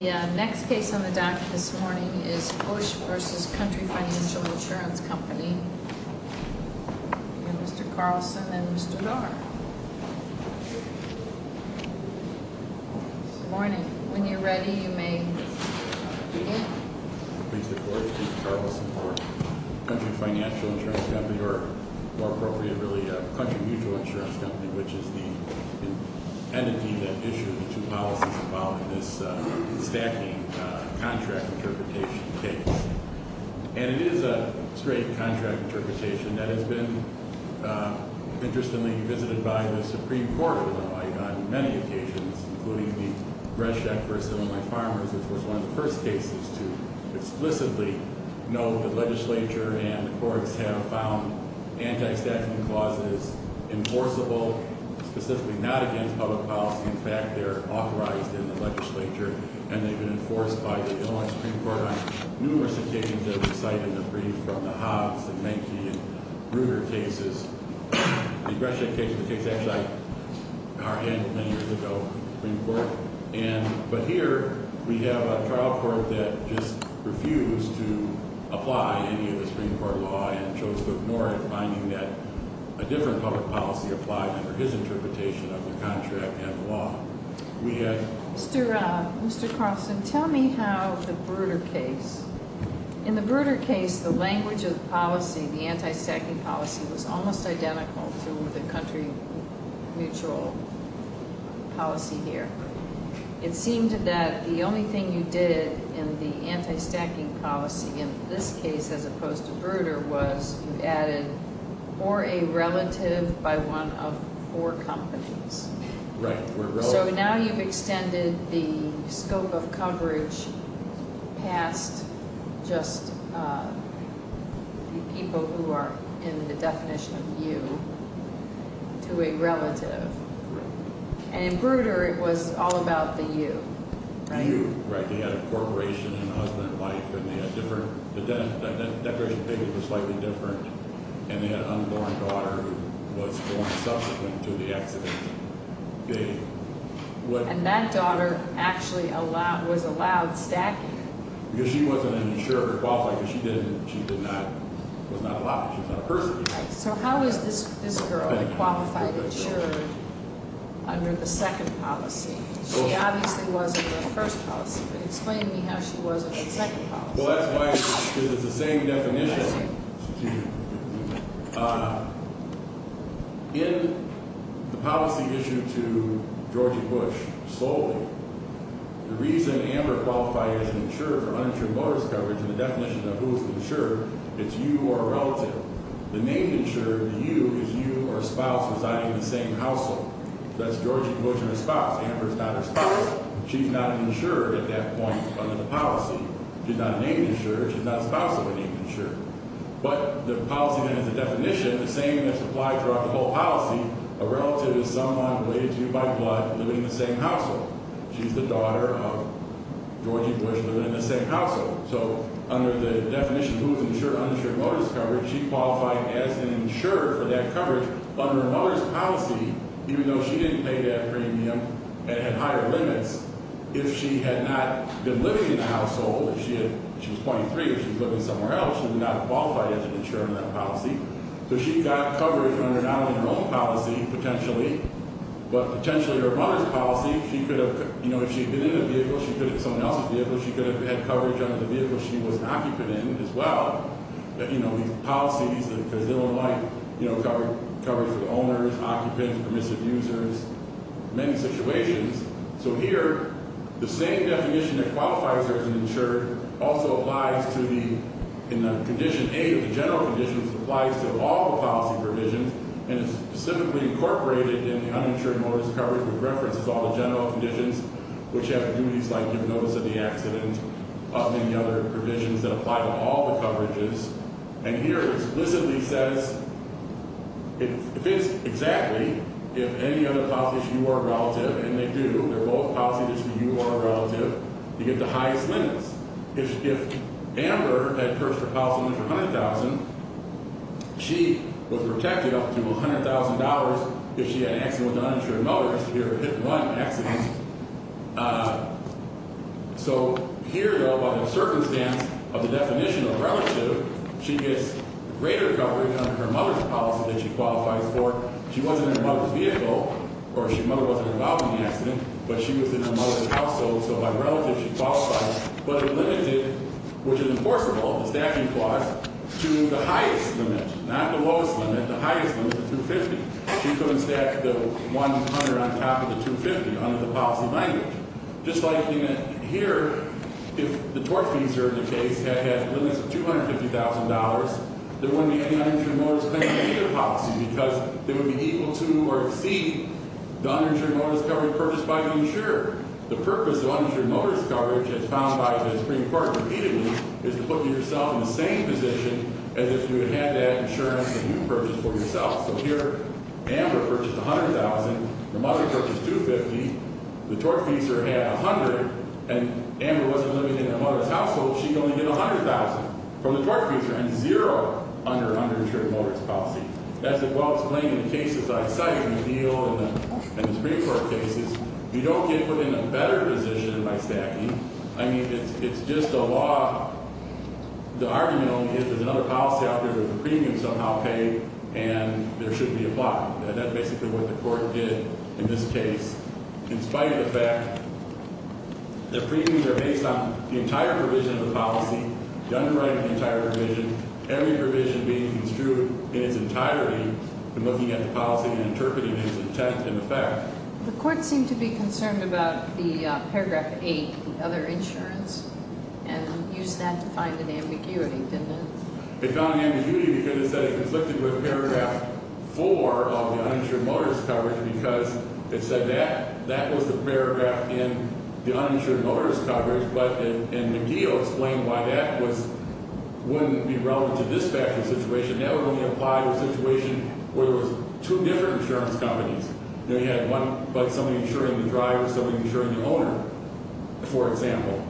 The next case on the docket this morning is Busch v. Country Financial Insurance Company. Mr. Carlson and Mr. Dar. Good morning. When you're ready, you may begin. Mr. Carlson for Country Financial Insurance Company, or more appropriately, Country Mutual Insurance Company, which is the entity that issued the two policies about this stacking contract interpretation case. And it is a straight contract interpretation that has been, interestingly, visited by the Supreme Court on many occasions, including the Brezhnev v. Illinois Farmers. This was one of the first cases to explicitly know the legislature and the courts have found anti-stacking clauses enforceable, specifically not against public policy. In fact, they're authorized in the legislature, and they've been enforced by the Illinois Supreme Court on numerous occasions that we cite in the brief, from the Hobbs and Menke and Bruder cases. The Brezhnev case, the case actually I, our end many years ago in the Supreme Court. And, but here we have a trial court that just refused to apply any of the Supreme Court law and chose to ignore it, finding that a different public policy applied under his interpretation of the contract and the law. Mr. Carlson, tell me how the Bruder case, in the Bruder case, the language of the policy, the anti-stacking policy, was almost identical to the country mutual policy here. It seemed that the only thing you did in the anti-stacking policy in this case, as opposed to Bruder, was you added or a relative by one of four companies. So now you've extended the scope of coverage past just the people who are in the definition of you to a relative. And in Bruder, it was all about the you, right? The you, right. They had a corporation and a husband and wife, and they had different, the identification of the baby was slightly different, and they had an unborn daughter who was born subsequent to the accident. And that daughter actually allowed, was allowed stacking? Because she wasn't insured or qualified, because she didn't, she did not, was not allowed. So how is this girl qualified, insured, under the second policy? She obviously was under the first policy, but explain to me how she was under the second policy. Well, that's why, because it's the same definition. In the policy issued to George W. Bush solely, the reason Amber qualified as insured or uninsured motorist coverage, and the definition of who is insured, it's you or a relative. The name insured, the you, is you or a spouse residing in the same household. That's George W. Bush and his spouse. Amber is not his spouse. She's not insured at that point under the policy. She's not named insured. She's not spousally named insured. But the policy then has a definition, the same that's applied throughout the whole policy, a relative is someone related to you by blood living in the same household. She's the daughter of George W. Bush living in the same household. So under the definition, who is insured, uninsured motorist coverage, she qualified as an insured for that coverage. Under a motorist policy, even though she didn't pay that premium and had higher limits, if she had not been living in the household, if she was 23, if she was living somewhere else, she would not have qualified as an insured in that policy. So she got coverage under not only her own policy, potentially, but potentially her mother's policy. She could have, you know, if she had been in the vehicle, she could have been in someone else's vehicle. She could have had coverage under the vehicle she was an occupant in as well. But, you know, these policies, they don't like, you know, coverage for the owners, occupants, permissive users, many situations. So here, the same definition that qualifies her as an insured also applies to the condition A of the general conditions applies to all the policy provisions and is specifically incorporated in the uninsured motorist coverage with reference to all the general conditions, which have duties like giving notice of the accident, and many other provisions that apply to all the coverages. And here it explicitly says it fits exactly if any other policy issue or relative, and they do. They're both policies for you or a relative. You get the highest limits. If Amber had purchased a policy limit for $100,000, she was protected up to $100,000 if she had an accident with an uninsured motorist. So here, though, by the circumstance of the definition of relative, she gets greater coverage under her mother's policy that she qualifies for. She wasn't in her mother's vehicle, or her mother wasn't involved in the accident, but she was in her mother's household, so by relative she qualifies, but it limits it, which is enforceable, the staffing clause, to the highest limit, not the lowest limit. The highest limit is $250,000. She couldn't stack the $100,000 on top of the $250,000 under the policy language. Just like here, if the tortfeasor in the case had limits of $250,000, there wouldn't be any uninsured motorist claim in either policy because they would be equal to or exceed the uninsured motorist coverage purchased by the insurer. The purpose of uninsured motorist coverage, as found by the Supreme Court repeatedly, is to put yourself in the same position as if you had that insurance that you purchased for yourself. So here, Amber purchased $100,000. Her mother purchased $250,000. The tortfeasor had $100,000, and Amber wasn't living in her mother's household. She could only get $100,000 from the tortfeasor and zero under uninsured motorist policy. That's a well-explained in the cases I cite in the deal and the Supreme Court cases. You don't get put in a better position by stacking. I mean, it's just a law. The argument only is there's another policy out there that the premium is somehow paid and there should be a block. And that's basically what the court did in this case in spite of the fact that premiums are based on the entire provision of the policy, done right in the entire provision, every provision being construed in its entirety and looking at the policy and interpreting its intent and effect. The court seemed to be concerned about the Paragraph 8, the other insurance, and used that to find an ambiguity, didn't it? It found an ambiguity because it said it conflicted with Paragraph 4 of the uninsured motorist coverage because it said that was the paragraph in the uninsured motorist coverage, but in the deal explained why that wouldn't be relevant to this factory situation. That would only apply to a situation where there was two different insurance companies. You know, you had somebody insuring the driver, somebody insuring the loaner, for example.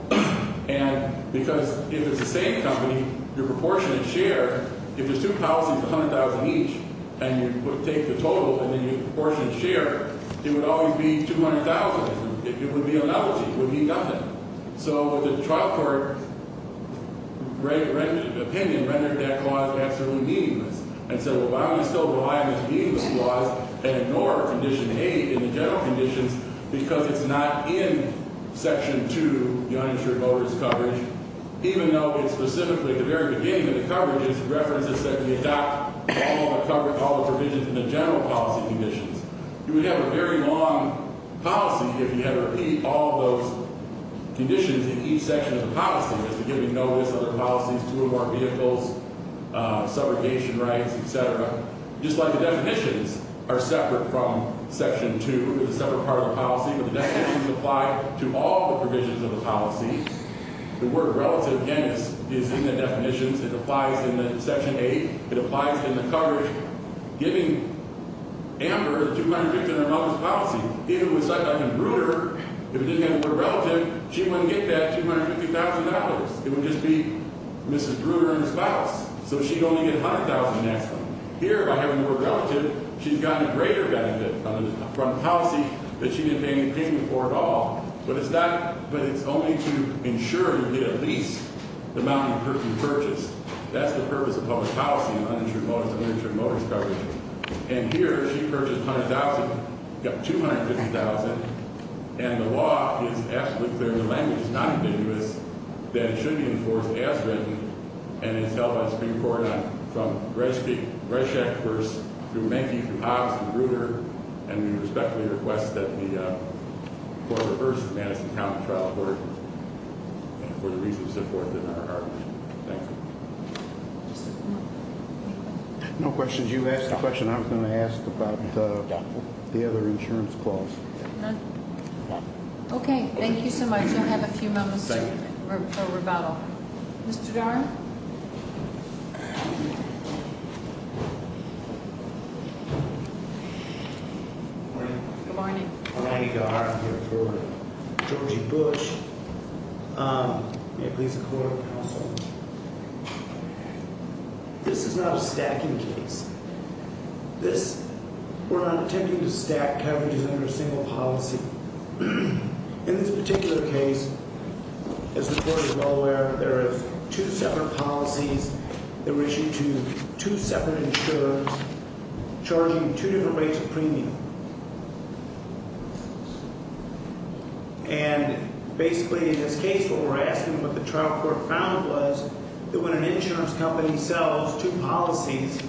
And because if it's the same company, your proportionate share, if there's two policies, $100,000 each, and you take the total and then your proportionate share, it would always be $200,000. It would be an apology. It would mean nothing. So the trial court opinion rendered that clause absolutely meaningless and said, well, why don't we still rely on this meaningless clause and ignore Condition 8 in the general conditions because it's not in Section 2, the uninsured motorist coverage, even though it's specifically at the very beginning of the coverage, it references that we adopt all the provisions in the general policy conditions. You would have a very long policy if you had to repeat all of those conditions in each section of the policy, as to giving notice of the policies, two or more vehicles, subrogation rights, et cetera, just like the definitions are separate from Section 2. It's a separate part of the policy, but the definitions apply to all the provisions of the policy. The word relative, again, is in the definitions. It applies in the Section 8. It applies in the coverage, giving Amber $250,000 notice of policy. Even with something like Bruder, if it didn't have the word relative, she wouldn't get that $250,000. It would just be Mrs. Bruder and her spouse. So she'd only get $100,000 next time. Here, by having the word relative, she's gotten a greater benefit from the policy, but she didn't pay any payment for it at all. But it's not – but it's only to ensure you get at least the amount of person purchased. That's the purpose of public policy in uninsured motorist and uninsured motorist coverage. And here, she purchased $100,000, got $250,000, and the law is absolutely clear. The language is not ambiguous that it should be enforced as written, and it's held on Supreme Court from Reschak v. through Menke, through Hobbs, to Bruder, and we respectfully request that the – for the first Madison County trial court, and for the reasons reported in our argument. Thank you. Any questions? No questions. You asked a question I was going to ask about the other insurance clause. None? None. Okay. Thank you so much. We'll have a few moments for rebuttal. Mr. Darn? Good morning. Good morning. Ronnie Darn here for Georgie Bush. May it please the court and counsel, this is not a stacking case. This – we're not attempting to stack coverage under a single policy. In this particular case, as the court is well aware, there are two separate policies. They're issued to two separate insurers charging two different rates of premium. And basically, in this case, what we're asking, what the trial court found was that when an insurance company sells two policies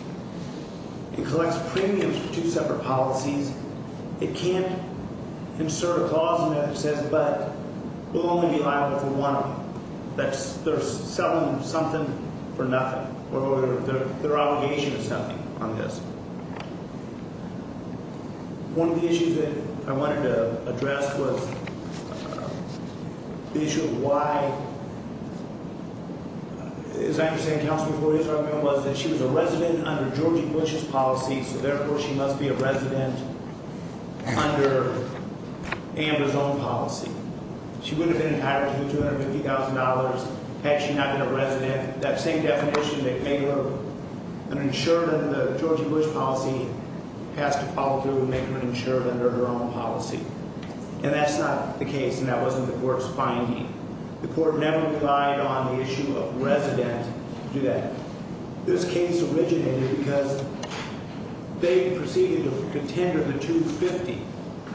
and collects premiums for two separate policies, it can't insert a clause in there that says, but will only be liable for one of them. That's – they're selling something for nothing, or their obligation is something on this. One of the issues that I wanted to address was the issue of why – as I understand, counsel, what he's arguing was that she was a resident under Georgie Bush's policy, so therefore she must be a resident under Amber's own policy. She would have been entitled to $250,000 had she not been a resident. And that same definition that made her an insurer under the Georgie Bush policy has to follow through and make her an insurer under her own policy. And that's not the case, and that wasn't the court's finding. The court never relied on the issue of resident to do that. This case originated because they proceeded to contender the $250,000.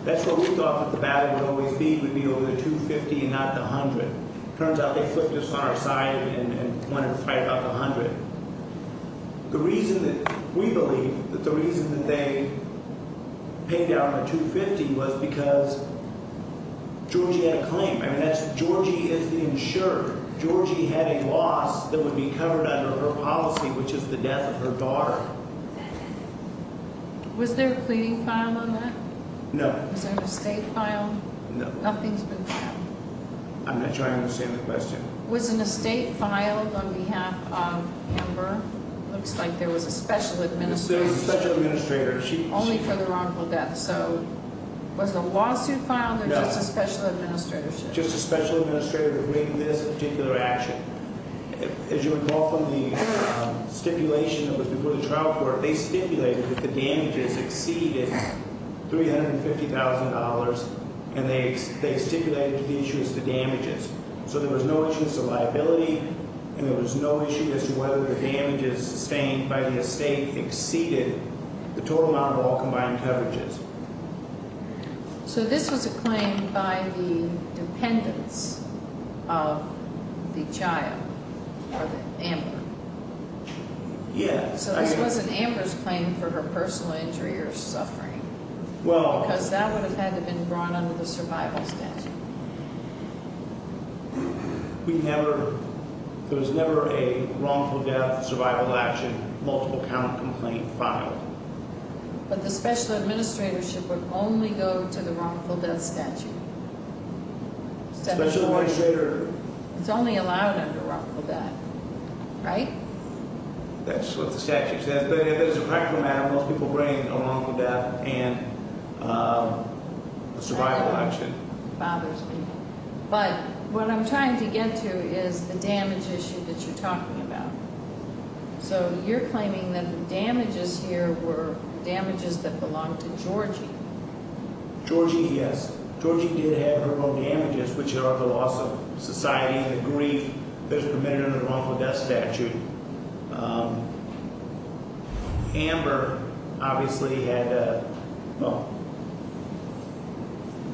That's what we thought that the value would always be, would be over the $250,000 and not the $100,000. It turns out they flipped us on our side and wanted to pipe up $100,000. The reason that – we believe that the reason that they paid down the $250,000 was because Georgie had a claim. I mean, that's – Georgie is the insurer. Georgie had a loss that would be covered under her policy, which is the death of her daughter. Was there a pleading file on that? No. Was there an estate file? No. Nothing's been filed? I'm not sure I understand the question. Was an estate filed on behalf of Amber? It looks like there was a special administrator. There was a special administrator. Only for the wrongful death. So was a lawsuit filed or just a special administratorship? Just a special administrator to bring this particular action. As you recall from the stipulation that was before the trial court, they stipulated that the damages exceeded $350,000, and they stipulated the issue as the damages. So there was no issue as to liability, and there was no issue as to whether the damages sustained by the estate exceeded the total amount of all combined coverages. So this was a claim by the dependents of the child or the Amber? Yeah. So this wasn't Amber's claim for her personal injury or suffering? Because that would have had to have been brought under the survival statute. There was never a wrongful death, survival action, multiple count complaint filed. But the special administratorship would only go to the wrongful death statute. Special administrator. It's only allowed under wrongful death, right? That's what the statute says. But as a practical matter, most people bring a wrongful death and a survival action. That bothers me. But what I'm trying to get to is the damage issue that you're talking about. So you're claiming that the damages here were damages that belonged to Georgie. Georgie, yes. Georgie did have her own damages, which are the loss of society and the grief that's permitted under the wrongful death statute. Amber obviously had a, well,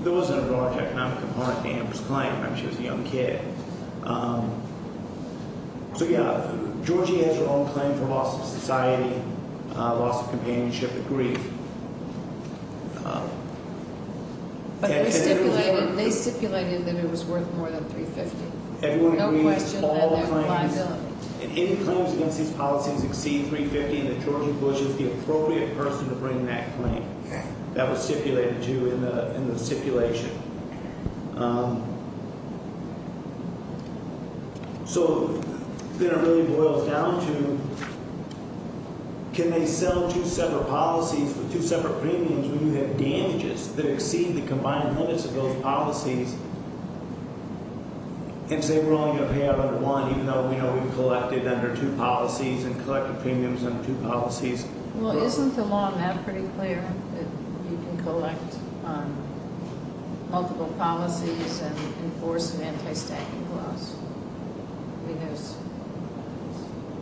there wasn't a broad economic component to Amber's claim. I mean, she was a young kid. So, yeah, Georgie has her own claim for loss of society, loss of companionship and grief. But they stipulated that it was worth more than $350,000. No question about that. And any claims against these policies exceed $350,000 and that Georgie Bush is the appropriate person to bring that claim. That was stipulated too in the stipulation. So then it really boils down to can they sell two separate policies with two separate premiums when you have damages that exceed the combined limits of those policies? And say we're only going to pay out under one even though we know we've collected under two policies and collected premiums under two policies? Well, isn't the law on that pretty clear that you can collect on multiple policies and enforce an anti-stacking clause? Because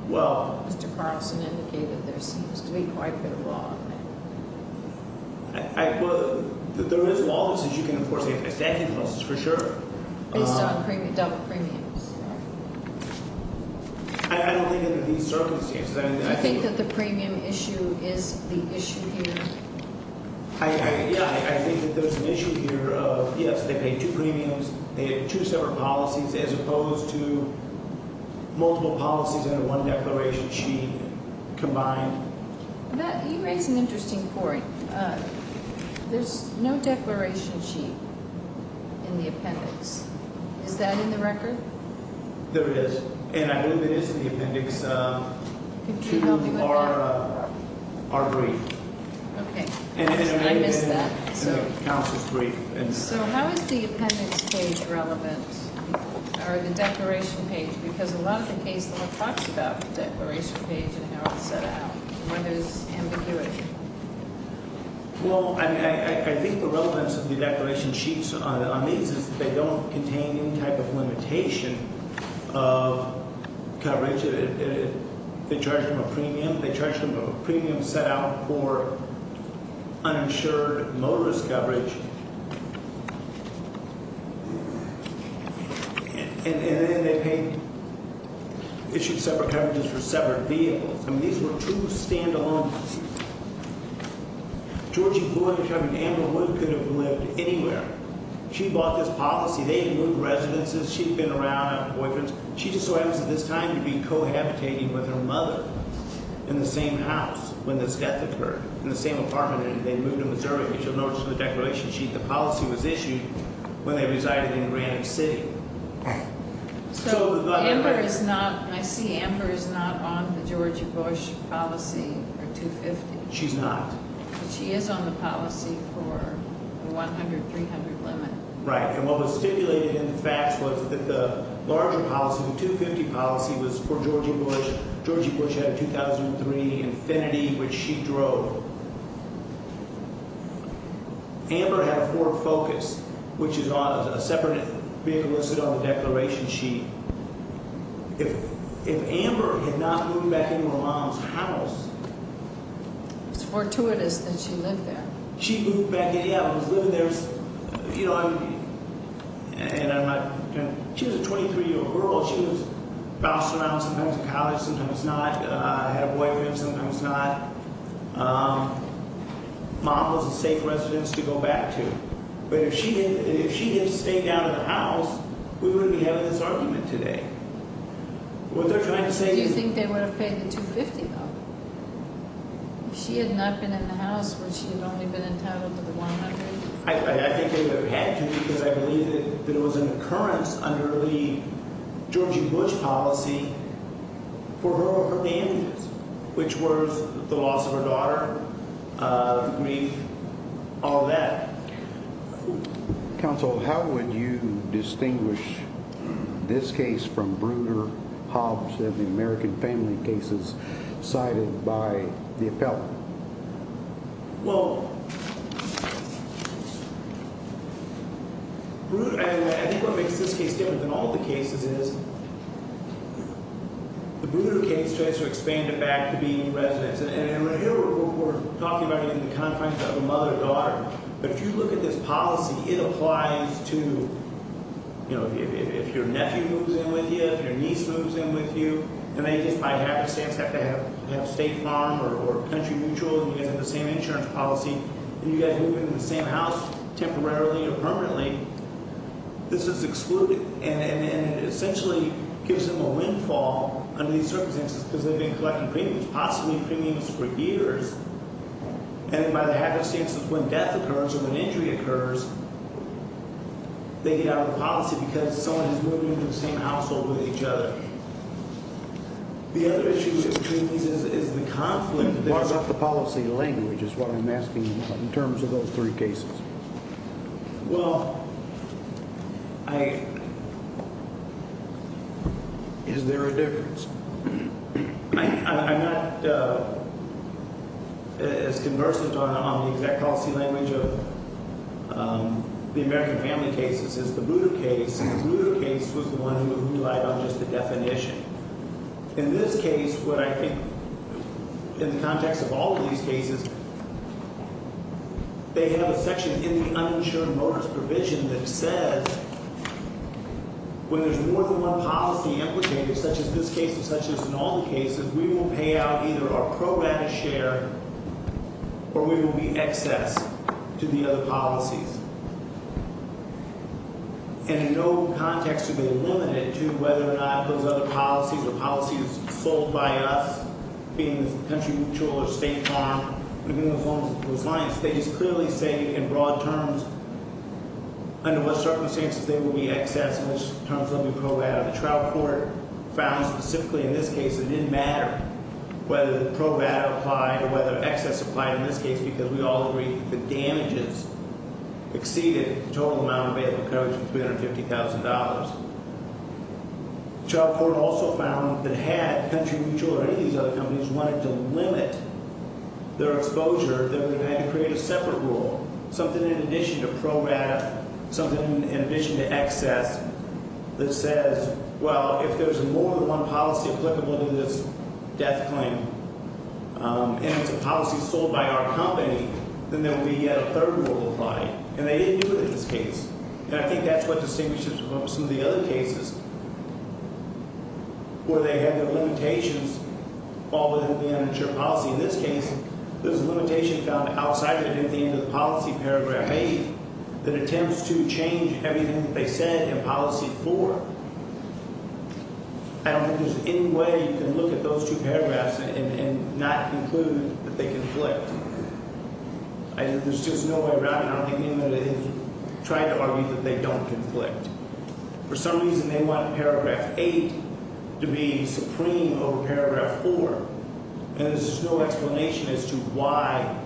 Mr. Carlson indicated there seems to be quite a bit of law on that. Well, there is law that says you can enforce anti-stacking clauses for sure. Based on double premiums. I don't think under these circumstances. Do you think that the premium issue is the issue here? Yeah, I think that there's an issue here of, yes, they paid two premiums. They had two separate policies as opposed to multiple policies under one declaration sheet combined. Matt, you raise an interesting point. There's no declaration sheet in the appendix. Is that in the record? There is. And I believe it is in the appendix to our brief. Okay. I missed that. Counsel's brief. So how is the appendix page relevant? Or the declaration page? Because a lot of the case law talks about the declaration page and how it's set out. Where there's ambiguity. Well, I think the relevance of the declaration sheets on these is they don't contain any type of limitation of coverage. They charge them a premium. They charge them a premium set out for uninsured motorist coverage. And then they pay issued separate coverages for separate vehicles. I mean, these were two stand-alone policies. Georgie Wood and Amber Wood could have lived anywhere. She bought this policy. They had moved residences. She had been around, had boyfriends. She just so happens at this time to be cohabitating with her mother in the same house when this death occurred, in the same apartment. And they moved to Missouri. But you'll notice in the declaration sheet the policy was issued when they resided in Granite City. So Amber is not – I see Amber is not on the Georgie Bush policy or 250. She's not. But she is on the policy for the 100-300 limit. Right. And what was stipulated in the facts was that the larger policy, the 250 policy, was for Georgie Bush. Georgie Bush had a 2003 Infiniti, which she drove. Amber had a Ford Focus, which is a separate vehicle listed on the declaration sheet. If Amber had not moved back into her mom's house. It's fortuitous that she lived there. She moved back in. Yeah, I was living there. You know, and I'm not – she was a 23-year-old girl. She was bouncing around sometimes in college, sometimes not. I had a boyfriend, sometimes not. Mom was a safe residence to go back to. But if she had stayed out of the house, we wouldn't be having this argument today. What they're trying to say is – Do you think they would have paid the 250, though? If she had not been in the house, would she have only been entitled to the 100? I think they would have had to because I believe that it was an occurrence under the Georgie Bush policy for her or her families, which was the loss of her daughter, grief, all that. Counsel, how would you distinguish this case from Bruner, Hobbs, and the American family cases cited by the appellant? Well, I think what makes this case different than all the cases is the Bruner case tries to expand it back to being residence. And here we're talking about it in the context of a mother-daughter. But if you look at this policy, it applies to, you know, if your nephew moves in with you, if your niece moves in with you, and they just by habit have to have state farm or country mutual and you guys have the same insurance policy and you guys move into the same house temporarily or permanently, this is excluded. And it essentially gives them a windfall under these circumstances because they've been collecting premiums, possibly premiums for years. And by the habit of when death occurs or when injury occurs, they get out of the policy because someone is moving into the same household with each other. The other issue between these is the conflict. What about the policy language is what I'm asking you about in terms of those three cases? Well, I – is there a difference? I'm not as conversant on the exact policy language of the American family cases as the Bruner case. The Bruner case was the one who relied on just the definition. In this case, what I think in the context of all of these cases, they have a section in the uninsured motorist provision that says when there's more than one policy implicator, such as this case or such as in all the cases, we will pay out either our pro rata share or we will be excess to the other policies. And in no context to be limited to whether or not those other policies or policies sold by us being the country mutual or state farm, they just clearly say in broad terms under what circumstances they will be excess and which terms they'll be pro rata. The Trout Court found specifically in this case it didn't matter whether pro rata applied or whether excess applied in this case because we all agree the damages exceeded the total amount available in coverage of $350,000. Trout Court also found that had country mutual or any of these other companies wanted to limit their exposure, they would have had to create a separate rule, something in addition to pro rata, something in addition to excess that says, well, if there's more than one policy applicable to this death claim, and it's a policy sold by our company, then there will be yet a third rule applied. And they didn't do it in this case. And I think that's what distinguishes it from some of the other cases where they had their limitations all within the amateur policy. In this case, there's a limitation found outside it at the end of the policy paragraph 8 that attempts to change everything that they said in policy 4. I don't think there's any way you can look at those two paragraphs and not conclude that they conflict. There's just no way around it. I don't think anybody tried to argue that they don't conflict. For some reason, they want paragraph 8 to be supreme over paragraph 4. And there's no explanation as to why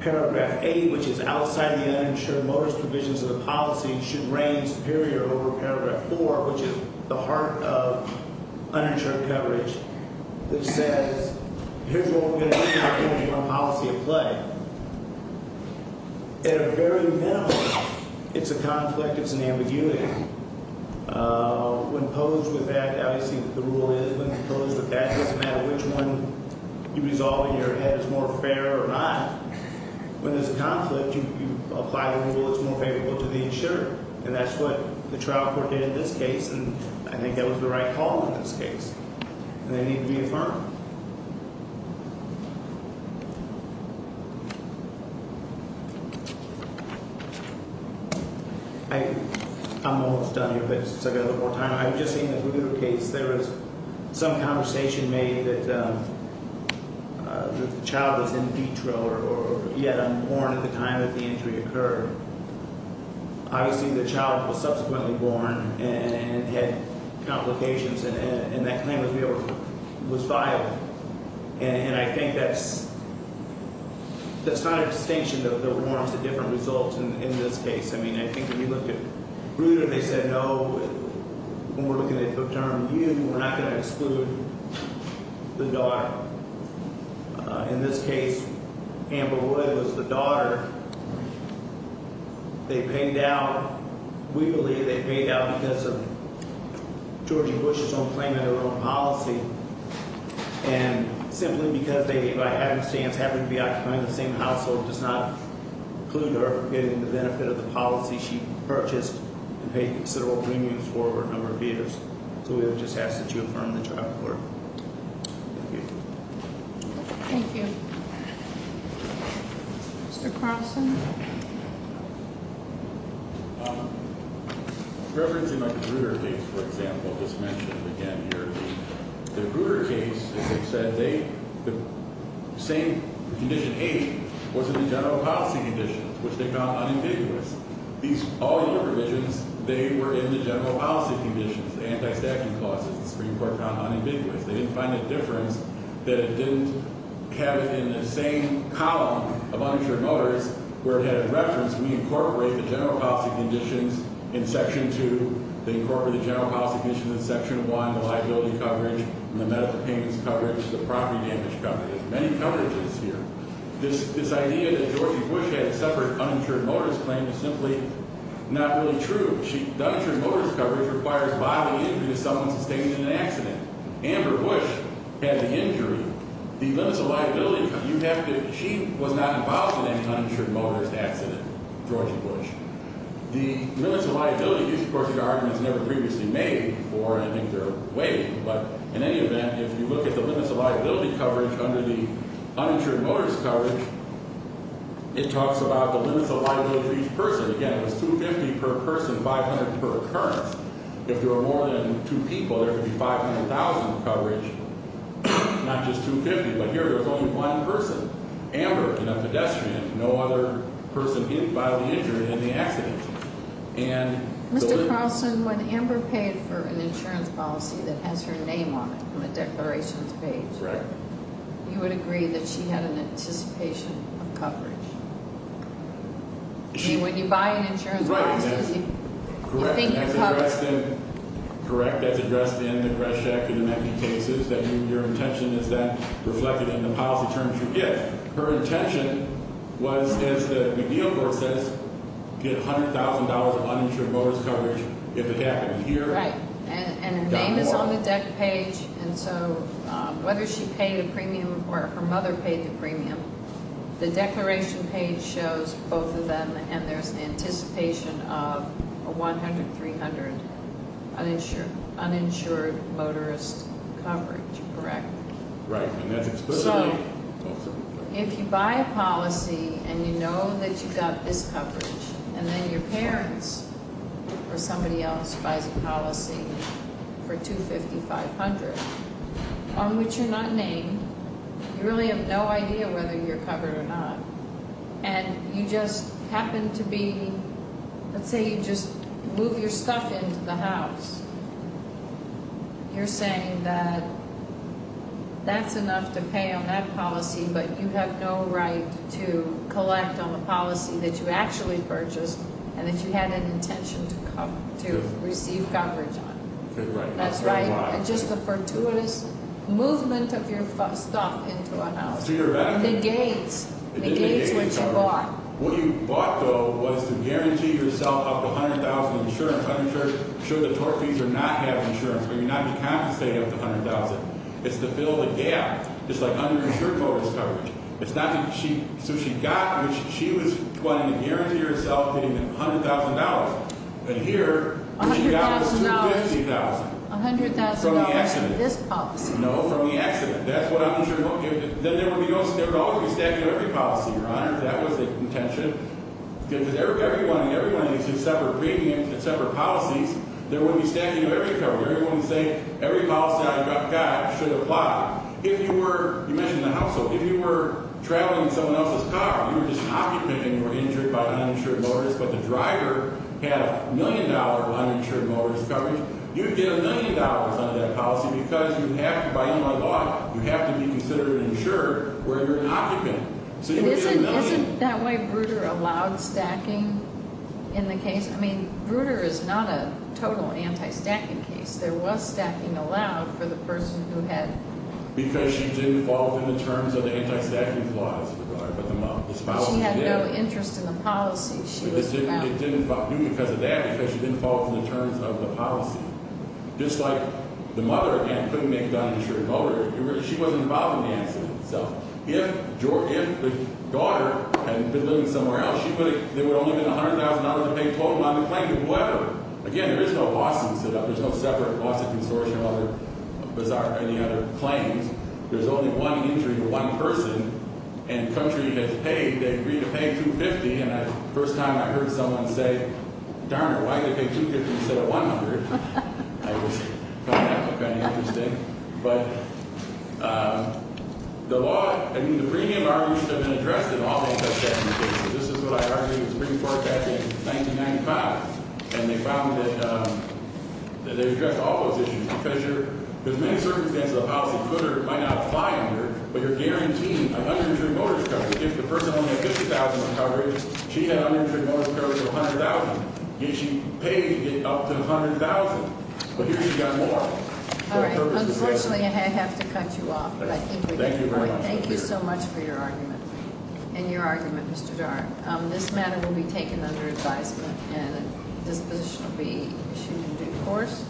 paragraph 8, which is outside the uninsured motives provisions of the policy, should reign superior over paragraph 4, which is the heart of uninsured coverage, that says here's what we're going to do now based on policy at play. At a very minimum, it's a conflict. It's an ambiguity. When posed with that, obviously the rule is when posed with that, it doesn't matter which one you resolve in your head is more fair or not. When there's a conflict, you apply the rule that's more favorable to the insured, and that's what the trial court did in this case, and I think that was the right call in this case. And they need to be affirmed. I'm almost done here, but I've got a little more time. I was just seeing the Bruder case. There was some conversation made that the child was in vitro or yet unborn at the time that the injury occurred. Obviously, the child was subsequently born and had complications, and that claim was filed. And I think that's kind of a distinction that warrants a different result in this case. I mean, I think when you look at Bruder, they said, no, when we're looking at a paternal view, we're not going to exclude the daughter. In this case, Amber Wood was the daughter. They paid out. We believe they paid out because of Georgie Bush's own claim and their own policy, and simply because they, by happenstance, happened to be occupying the same household, does not include her getting the benefit of the policy she purchased and paid considerable premiums for over a number of years. So we would just ask that you affirm the trial court. Thank you. Thank you. Mr. Carlson? Referencing my Bruder case, for example, as mentioned again here, the Bruder case, as I said, the same condition eight was in the general policy conditions, which they found unambiguous. These all-year provisions, they were in the general policy conditions, the anti-stacking clauses. The Supreme Court found unambiguous. They didn't find a difference that it didn't have it in the same column of uninsured mothers where it had a reference. We incorporate the general policy conditions in section two. They incorporate the general policy conditions in section one, the liability coverage, the medical payments coverage, the property damage coverage. There's many coverages here. This idea that Georgie Bush had a separate uninsured mother's claim is simply not really true. The uninsured mother's coverage requires bodily injury to someone sustained in an accident. Amber Bush had the injury. The limits of liability, you have to – she was not involved in any uninsured mother's accident, Georgie Bush. The limits of liability use, of course, are arguments never previously made before, and I think they're weighing, but in any event, if you look at the limits of liability coverage under the uninsured mother's coverage, it talks about the limits of liability for each person. Again, it was $250 per person, $500 per occurrence. If there were more than two people, there would be $500,000 coverage, not just $250. But here there was only one person, Amber, and a pedestrian, no other person hit, bodily injured in the accident. Mr. Carlson, when Amber paid for an insurance policy that has her name on it on the declarations page, you would agree that she had an anticipation of coverage. I mean, when you buy an insurance policy, you think of coverage. Correct. As addressed in the Greshak and the many cases, your intention is that reflected in the policy terms you get. Her intention was, as the McGill Court says, get $100,000 of uninsured mother's coverage if it happened here. Right. And her name is on the debt page, and so whether she paid a premium or her mother paid the premium, the declaration page shows both of them, and there's an anticipation of a $100,000, $300,000 uninsured motorist coverage, correct? Right. So if you buy a policy and you know that you've got this coverage, and then your parents or somebody else buys a policy for $250,000, $500,000, on which you're not named, you really have no idea whether you're covered or not, and you just happen to be, let's say you just move your stuff into the house, you're saying that that's enough to pay on that policy, but you have no right to collect on the policy that you actually purchased and that you had an intention to receive coverage on. Right. That's right. And just the fortuitous movement of your stuff into a house negates what you bought. What you bought, though, was to guarantee yourself up to $100,000 insurance. I'm sure the tort fees are not having insurance, but you're not compensating up to $100,000. It's to fill the gap. It's like uninsured motorist coverage. It's not that she – so she got – she was wanting to guarantee herself getting $100,000. But here, what she got was $250,000. $100,000. From the accident. From this policy. No, from the accident. That's what uninsured motorists – then there would be no – there would always be stacking of every policy, Your Honor, if that was the intention. Because every one – every one of these separate premiums and separate policies, there would be stacking of every coverage. Everyone would say every policy I got should apply. If you were – you mentioned the household. If you were traveling in someone else's car, you were just occupying and you were injured by an uninsured motorist, but the driver had a million-dollar uninsured motorist coverage, you'd get a million dollars under that policy because you have to – by E.R. law, you have to be considered an insurer where you're an occupant. So you'd get a million. Isn't – isn't that why Bruder allowed stacking in the case? I mean, Bruder is not a total anti-stacking case. There was stacking allowed for the person who had – Because she didn't fall within the terms of the anti-stacking clause, Your Honor, but the – this policy did. She had no interest in the policy. She was allowed – It didn't do because of that because she didn't fall within the terms of the policy. Just like the mother, again, couldn't make an uninsured motorist. She wasn't involved in the accident itself. If George – if the daughter had been living somewhere else, she would have – there would only have been $100,000 to pay total on the claim to whoever. Again, there is no lawsuit set up. There's no separate lawsuit consortium or any other claims. There's only one injury to one person, and the country has paid. They agreed to pay $250,000, and the first time I heard someone say, darn it, why did they pay $250,000 instead of $100,000? I thought that was kind of interesting. But the law – I mean, the premium arguments have been addressed in all the anti-stacking cases. This is what I argued in the Supreme Court back in 1995, and they found that they addressed all those issues because you're – because in many circumstances, a policy footer might not apply under, but you're guaranteeing an uninsured motorist. If the person only had $50,000 on coverage, she had uninsured motorist coverage of $100,000. She paid to get up to $100,000, but here she got more. All right. Unfortunately, I have to cut you off, but I think we get the point. Thank you very much. Thank you so much for your argument and your argument, Mr. Darn. This matter will be taken under advisement, and this position will be issued in due course.